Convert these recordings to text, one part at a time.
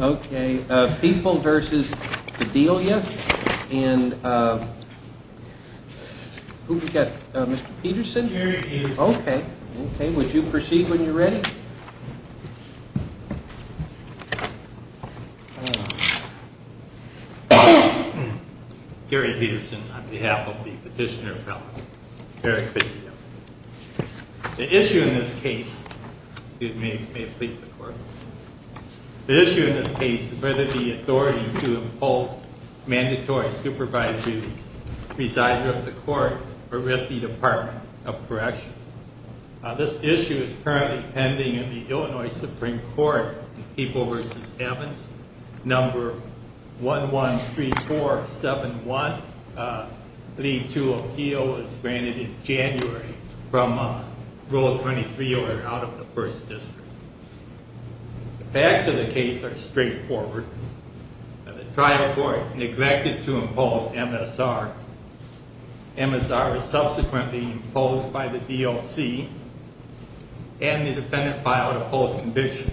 Okay, People v. Padilla. And who have we got? Mr. Peterson? Okay. Would you proceed when you're ready? Gary Peterson, on behalf of the Petitioner Appellate. Very good to be here. The issue in this case, excuse me, may it please the Court, the issue in this case is whether the authority to impose mandatory supervised duties, residing with the Court or with the Department of Corrections. This issue is currently pending in the Illinois Supreme Court in People v. Evans, number 113471. Leave to appeal is granted in January from Rule 23 or out of the 1st District. The facts of the case are straightforward. The trial court neglected to impose MSR. MSR was subsequently imposed by the DOC and the defendant filed a post-conviction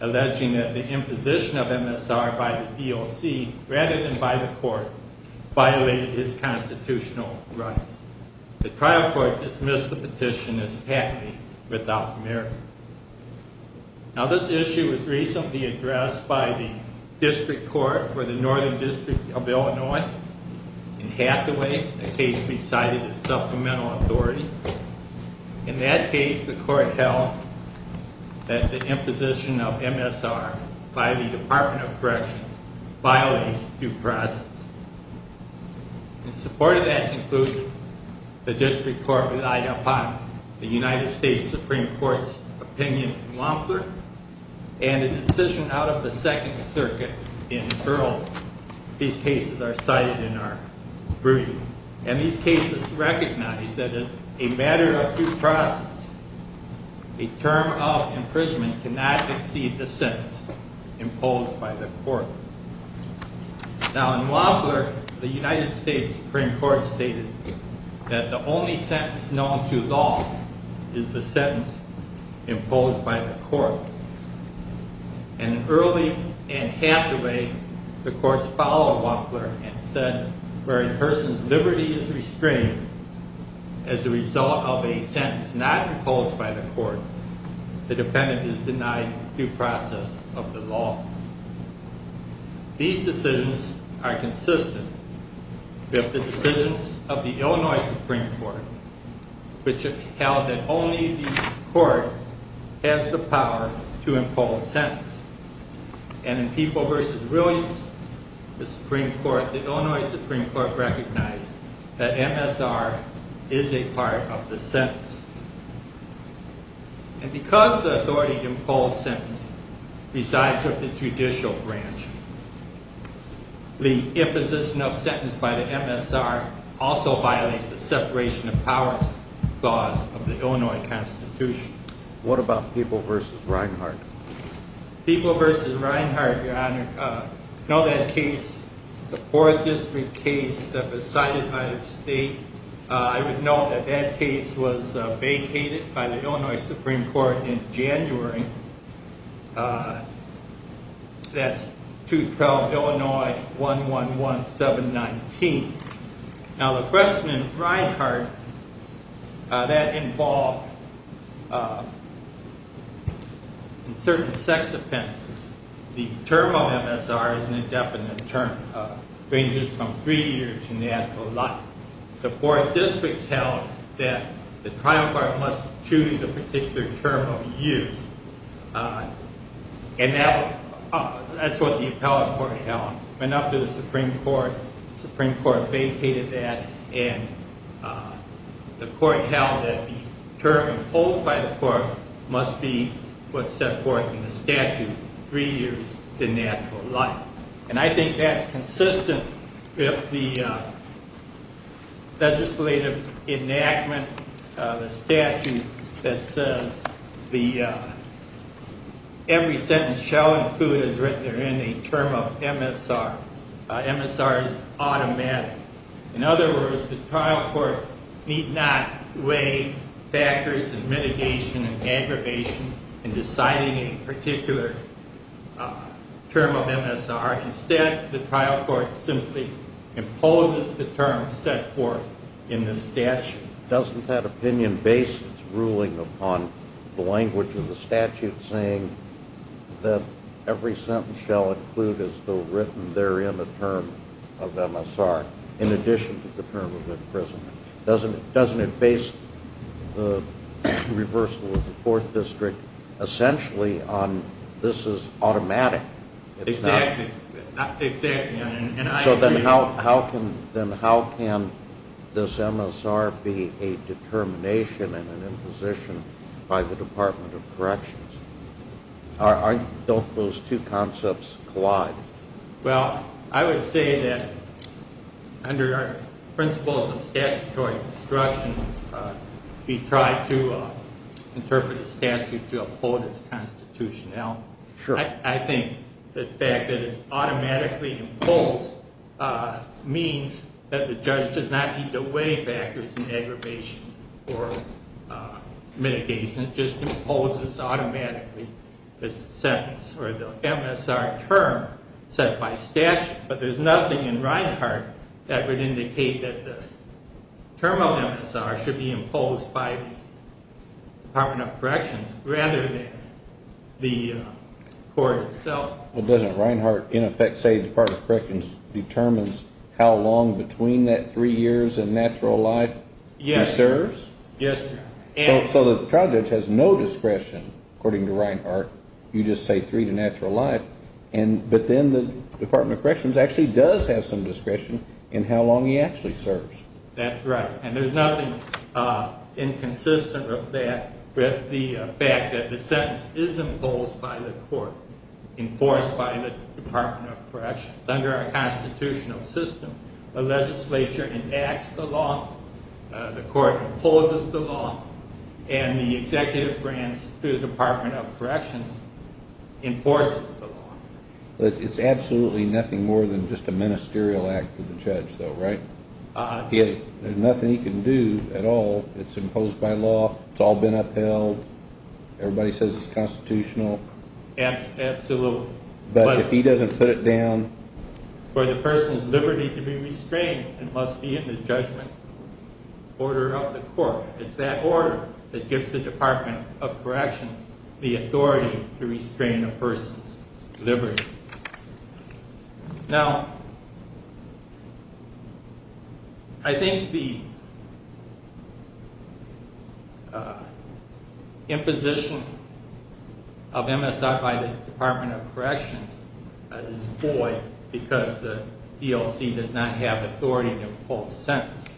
alleging that the imposition of MSR by the DOC rather than by the court violated his constitutional rights. The trial court dismissed the petition as happy without merit. Now this issue was recently addressed by the District Court for the Northern District of Illinois in Hathaway, a case we cited as supplemental authority. In that case, the court held that the imposition of MSR by the Department of Corrections violates due process. In support of that conclusion, the District Court relied upon the United States Supreme Court's opinion in Wampler and a decision out of the Second Circuit in Earl. These cases are cited in our brief. And these cases recognize that as a matter of due process, a term of imprisonment cannot exceed the sentence imposed by the court. Now in Wampler, the United States Supreme Court stated that the only sentence known to law is the sentence imposed by the court. And early in Hathaway, the courts followed Wampler and said where a person's liberty is restrained as a result of a denied due process of the law. These decisions are consistent with the decisions of the Illinois Supreme Court, which held that only the court has the power to impose sentence. And in People v. Williams, the Illinois Supreme Court recognized that MSR is a part of the sentence. And because the authority to impose sentence resides with the judicial branch. The imposition of sentence by the MSR also violates the separation of powers clause of the Illinois Constitution. What about People v. Reinhart? People v. Reinhart, Your Honor, to know that case, the 4th District case that was cited by the court in February, that's 212 Illinois 111719. Now the question of Reinhart, that involved certain sex offenses. The term of MSR is an indefinite term. It ranges from 3 years to natural life. The 4th District held that the trial court must choose a particular term of use. And that's what the appellate court held. Went up to the Supreme Court, the Supreme Court vacated that, and the court held that the term imposed by the court must be what's set forth in the statute, 3 years to natural life. And I think that's consistent with the legislative enactment of the statute that says every sentence shall include is written in a term of MSR. MSR is automatic. In other words, the trial court need not weigh factors of mitigation and aggravation in deciding a particular term of MSR. Instead, the trial court simply imposes the term set forth in the statute. Doesn't that opinion base its ruling upon the language of the statute saying that every sentence shall include is still written there in the term of MSR in addition to the term of imprisonment? Doesn't it base the reversal of the 4th District essentially on this is automatic? Exactly. So then how can this MSR be a determination and an imposition by the Department of Corrections? Don't those two concepts collide? Well, I would say that under our principles of statutory instruction, we try to interpret the statute to uphold its constitutionality. I think the fact that it's automatically imposed means that the judge does not need to weigh factors in aggravation or mitigation. It just imposes automatically the sentence or the MSR term set by statute. But there's nothing in Reinhart that would indicate that the term of MSR should be imposed by the Department of Corrections rather than the court itself. Well, doesn't Reinhart in effect say the Department of Corrections determines how long between that 3 years and natural life he serves? Yes. So the trial judge has no discretion according to Reinhart. You just say 3 to natural life. But then the Department of Corrections actually does have some discretion in how long he actually serves. That's right. And there's nothing inconsistent of that with the fact that the sentence is imposed by the court, enforced by the Department of Corrections. It's under our constitutional system. The legislature enacts the law, the court imposes the law, and the executive branch through the Department of Corrections enforces the law. It's absolutely nothing more than just a ministerial act for the judge though, right? There's nothing he can do at all. It's imposed by law. It's all been upheld. Everybody says it's constitutional. Absolutely. But if he doesn't put it down... For the person's liberty to be restrained, it must be in the judgment order of the court. It's that order that gives the Department of Corrections the authority to restrain a person's liberty. Now, I think the imposition of MSI by the Department of Corrections is void because the DLC does not have authority to impose sentences.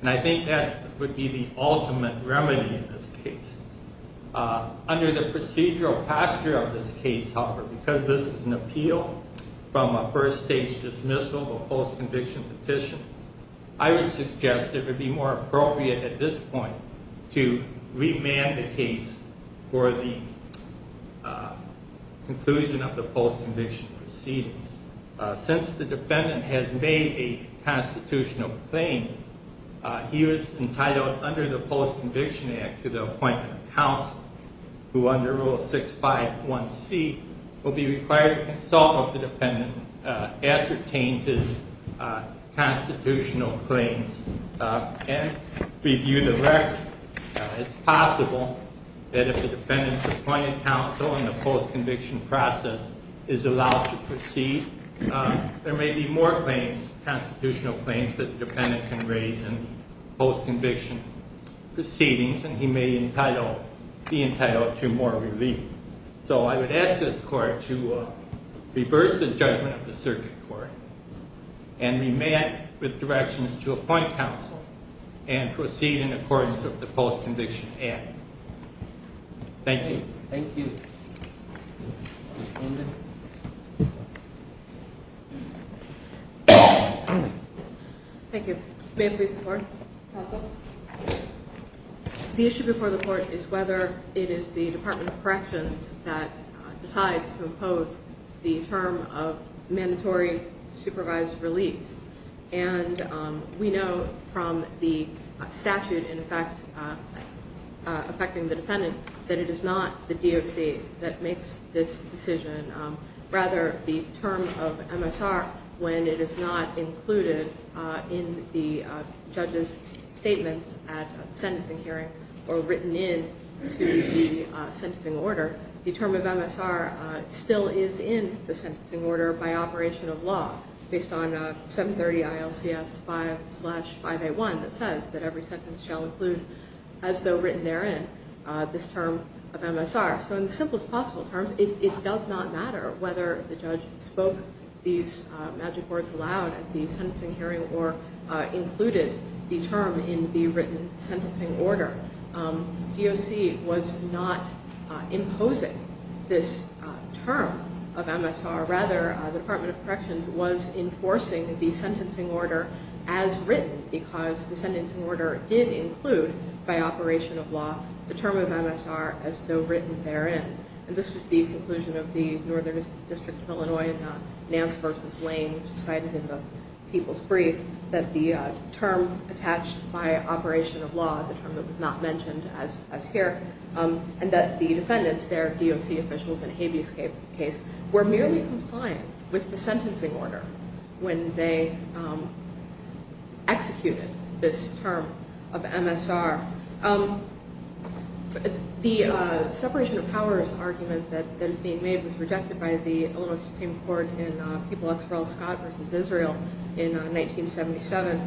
And I think that would be the ultimate remedy in this case. Under the procedural posture of this case, however, because this is an appeal from a first-stage dismissal, a post-conviction petition, I would suggest it would be more appropriate at this point to remand the case for the conclusion of the post-conviction proceedings. Since the defendant has made a constitutional claim, he was entitled under the Post-Conviction Act to the appointment of counsel, who under Rule 651C will be required to consult with the defendant, ascertain his constitutional claims, and review the record. It's possible that if the defendant's appointed counsel in the post-conviction process is allowed to proceed, there may be more constitutional claims that the defendant can raise in post-conviction proceedings, and he may be entitled to more relief. So I would ask this Court to reverse the judgment of the Circuit Court and remand with directions to appoint counsel and proceed in accordance with the Post-Conviction Act. Thank you. Thank you. Thank you. May it please the Court? Counsel? The issue before the Court is whether it is the Department of Corrections that decides to impose the term of mandatory supervised release. And we know from the statute, in effect, affecting the defendant, that it is not the DOC that makes this decision. Rather, the term of MSR, when it is not included in the judge's statements at the sentencing hearing or written into the sentencing order, the term of MSR still is in the sentencing order by operation of law, based on 730 ILCS 5-5A1, that says that every sentence shall include, as though written therein, this term of MSR. So in the simplest possible terms, it does not matter whether the judge spoke these magic words aloud at the sentencing hearing or included the term in the written sentencing order. DOC was not imposing this term of MSR. Rather, the Department of Corrections was enforcing the sentencing order as written, because the sentencing order did include, by operation of law, the term of MSR as though written therein. And this was the conclusion of the Northern District of Illinois, Nance v. Lane, which was cited in the People's Brief, that the term attached by operation of law, the term that was not mentioned as here, and that the defendants, their DOC officials in Habeas' case, were merely compliant with the sentencing order when they executed this term of MSR. The separation of powers argument that is being made was rejected by the Illinois Supreme Court in People v. Scott v. Israel in 1977,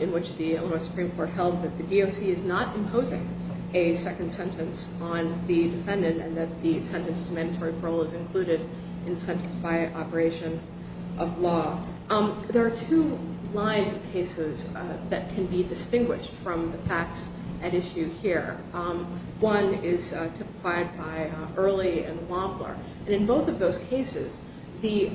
in which the Illinois Supreme Court held that the DOC is not imposing a second sentence on the defendant, and that the sentence to mandatory parole is included in the sentence by operation of law. There are two lines of cases that can be distinguished from the facts at issue here. One is typified by Early and Wampler. And in both of those cases, it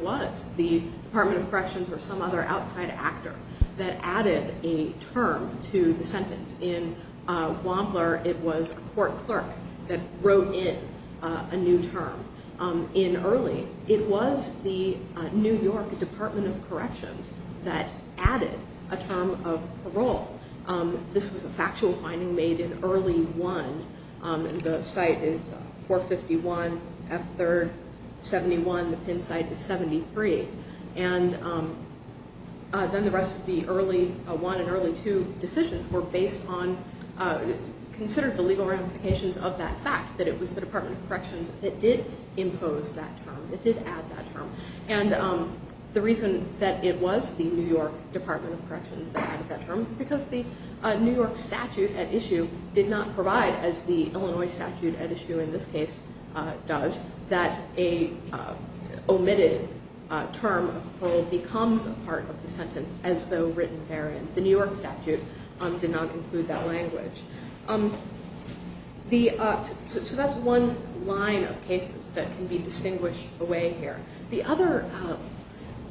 was the Department of Corrections or some other outside actor that added a term to the sentence. In Wampler, it was a court clerk that wrote in a new term. In Early, it was the New York Department of Corrections that added a term of parole. This was a factual finding made in Early 1. The site is 451 F. 3rd, 71. The pin site is 73. And then the rest of the Early 1 and Early 2 decisions were based on, considered the legal ramifications of that fact, that it was the Department of Corrections that did impose that term, that did add that term. And the reason that it was the New York Department of Corrections that added that term is because the New York statute at issue did not provide, as the Illinois statute at issue in this case does, that a omitted term of parole becomes a part of the sentence as though written therein. The New York statute did not include that language. So that's one line of cases that can be distinguished away here. The other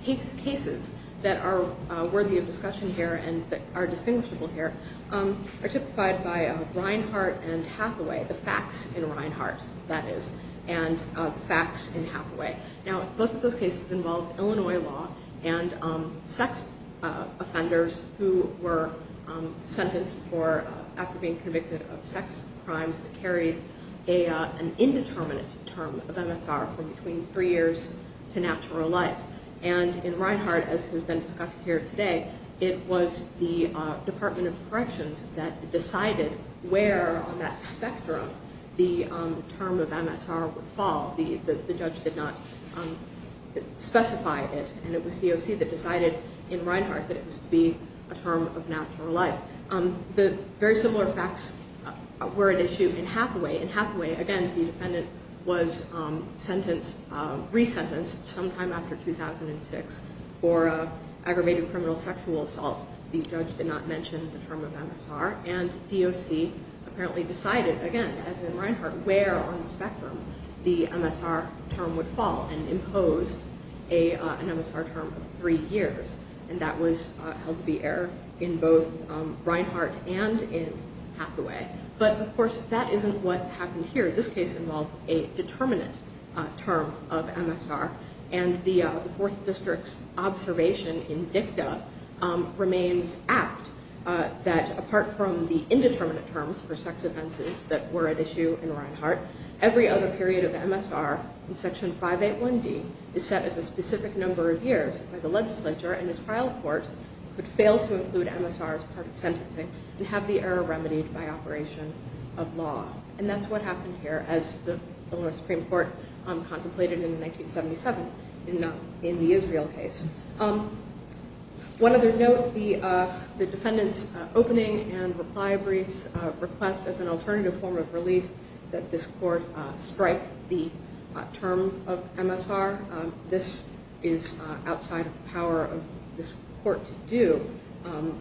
cases that are worthy of discussion here and that are distinguishable here are typified by Reinhart and Hathaway, the facts in Reinhart, that is, and the facts in Hathaway. Now, both of those cases involved Illinois law and sex offenders who were sentenced for, after being convicted of sex crimes that carried an indeterminate term of MSR for between three years to natural life. And in Reinhart, as has been discussed here today, it was the Department of Corrections that decided where on that spectrum the term of MSR would fall. The judge did not specify it. And it was DOC that decided in Reinhart that it was to be a term of natural life. The very similar facts were at issue in Hathaway. In Hathaway, again, the defendant was sentenced, resentenced sometime after 2006 for aggravated criminal sexual assault. The judge did not mention the term of MSR. And DOC apparently decided, again, as in Reinhart, where on the spectrum the MSR term would fall and imposed an MSR term of three years. And that was held to be error in both Reinhart and in Hathaway. But, of course, that isn't what happened here. This case involves a determinate term of MSR. And the Fourth District's observation in dicta remains apt that, apart from the indeterminate terms for sex offenses that were at issue in Reinhart, every other period of MSR in Section 581D is set as a specific number of years by the legislature. And a trial court could fail to include MSR as part of sentencing and have the error remedied by operation of law. And that's what happened here, as the Supreme Court contemplated in 1977 in the Israel case. One other note, the defendant's opening and reply briefs request as an alternative form of relief that this court strike the term of MSR. This is outside of the power of this court to do.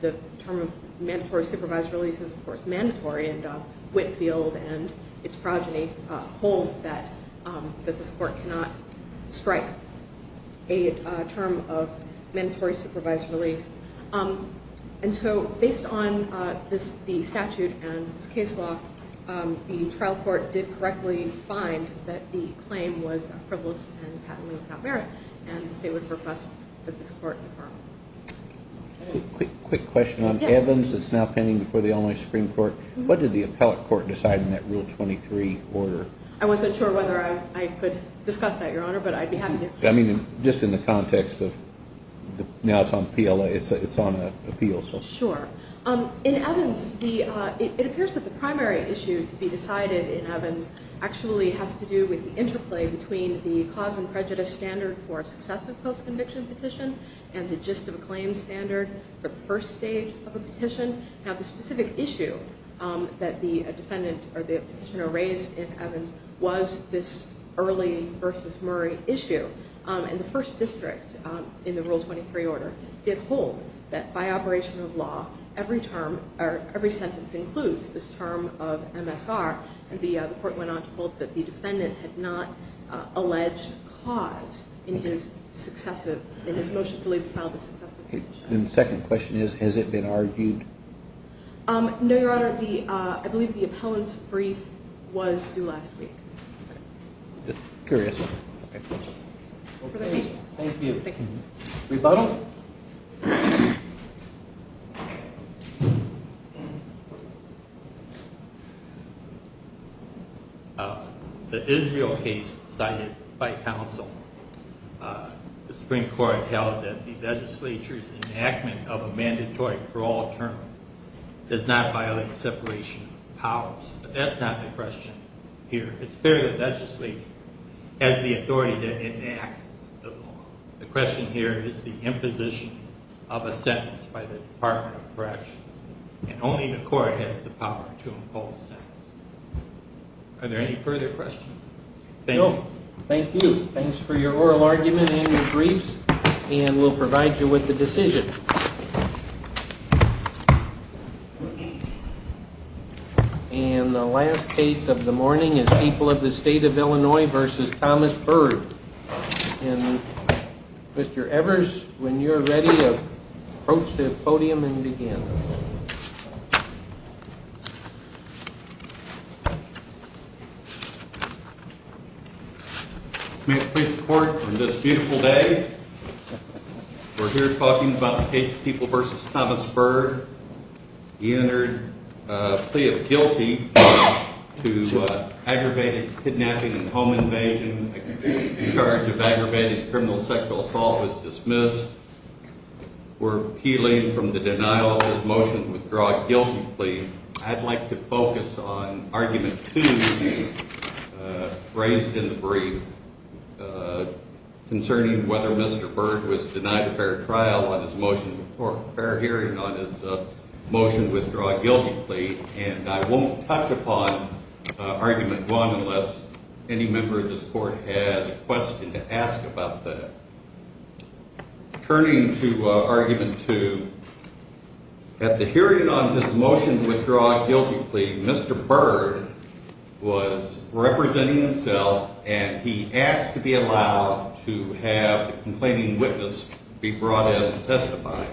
The term of mandatory supervised release is, of course, mandatory. And Whitefield and its progeny hold that this court cannot strike a term of mandatory supervised release. And so based on the statute and this case law, the trial court did correctly find that the claim was frivolous and patently without merit. And the state would request that this court confirm. Quick question on Evans that's now pending before the Illinois Supreme Court. What did the appellate court decide in that Rule 23 order? I wasn't sure whether I could discuss that, Your Honor, but I'd be happy to. I mean, just in the context of now it's on PLA, it's on appeal. Sure. In Evans, it appears that the primary issue to be decided in Evans actually has to do with the interplay between the cause and prejudice standard for a successive post-conviction petition and the gist of a claim standard for the first stage of a petition. Now, the specific issue that the defendant or the petitioner raised in Evans was this early versus Murray issue. And the first district in the Rule 23 order did hold that by operation of law, every sentence includes this term of MSR. And the court went on to hold that the defendant had not alleged cause in his motion to file the successive petition. The second question is, has it been argued? No, Your Honor. I believe the appellant's brief was due last week. Curious. Thank you. Rebuttal? The Israel case cited by counsel, the Supreme Court held that the legislature's enactment of a mandatory parole term does not violate separation of powers. But that's not the question here. It's fair that the legislature has the authority to enact the law. The question here is the imposition of a sentence by the Department of Corrections, and only the court has the power to impose a sentence. Are there any further questions? No. Thank you. Thanks for your oral argument and your briefs, and we'll provide you with the decision. Thank you. And the last case of the morning is People of the State of Illinois v. Thomas Byrd. And Mr. Evers, when you're ready, approach the podium and begin. May it please the Court, on this beautiful day, we're here talking about the case of People v. Thomas Byrd. He entered a plea of guilty to aggravated kidnapping and home invasion. A charge of aggravated criminal sexual assault was dismissed. We're appealing from the denial of his motion to withdraw a guilty plea. I'd like to focus on Argument 2, raised in the brief, concerning whether Mr. Byrd was denied a fair hearing on his motion to withdraw a guilty plea. And I won't touch upon Argument 1 unless any member of this Court has a question to ask about that. Turning to Argument 2, at the hearing on his motion to withdraw a guilty plea, Mr. Byrd was representing himself, and he asked to be allowed to have the complaining witness be brought in to testify.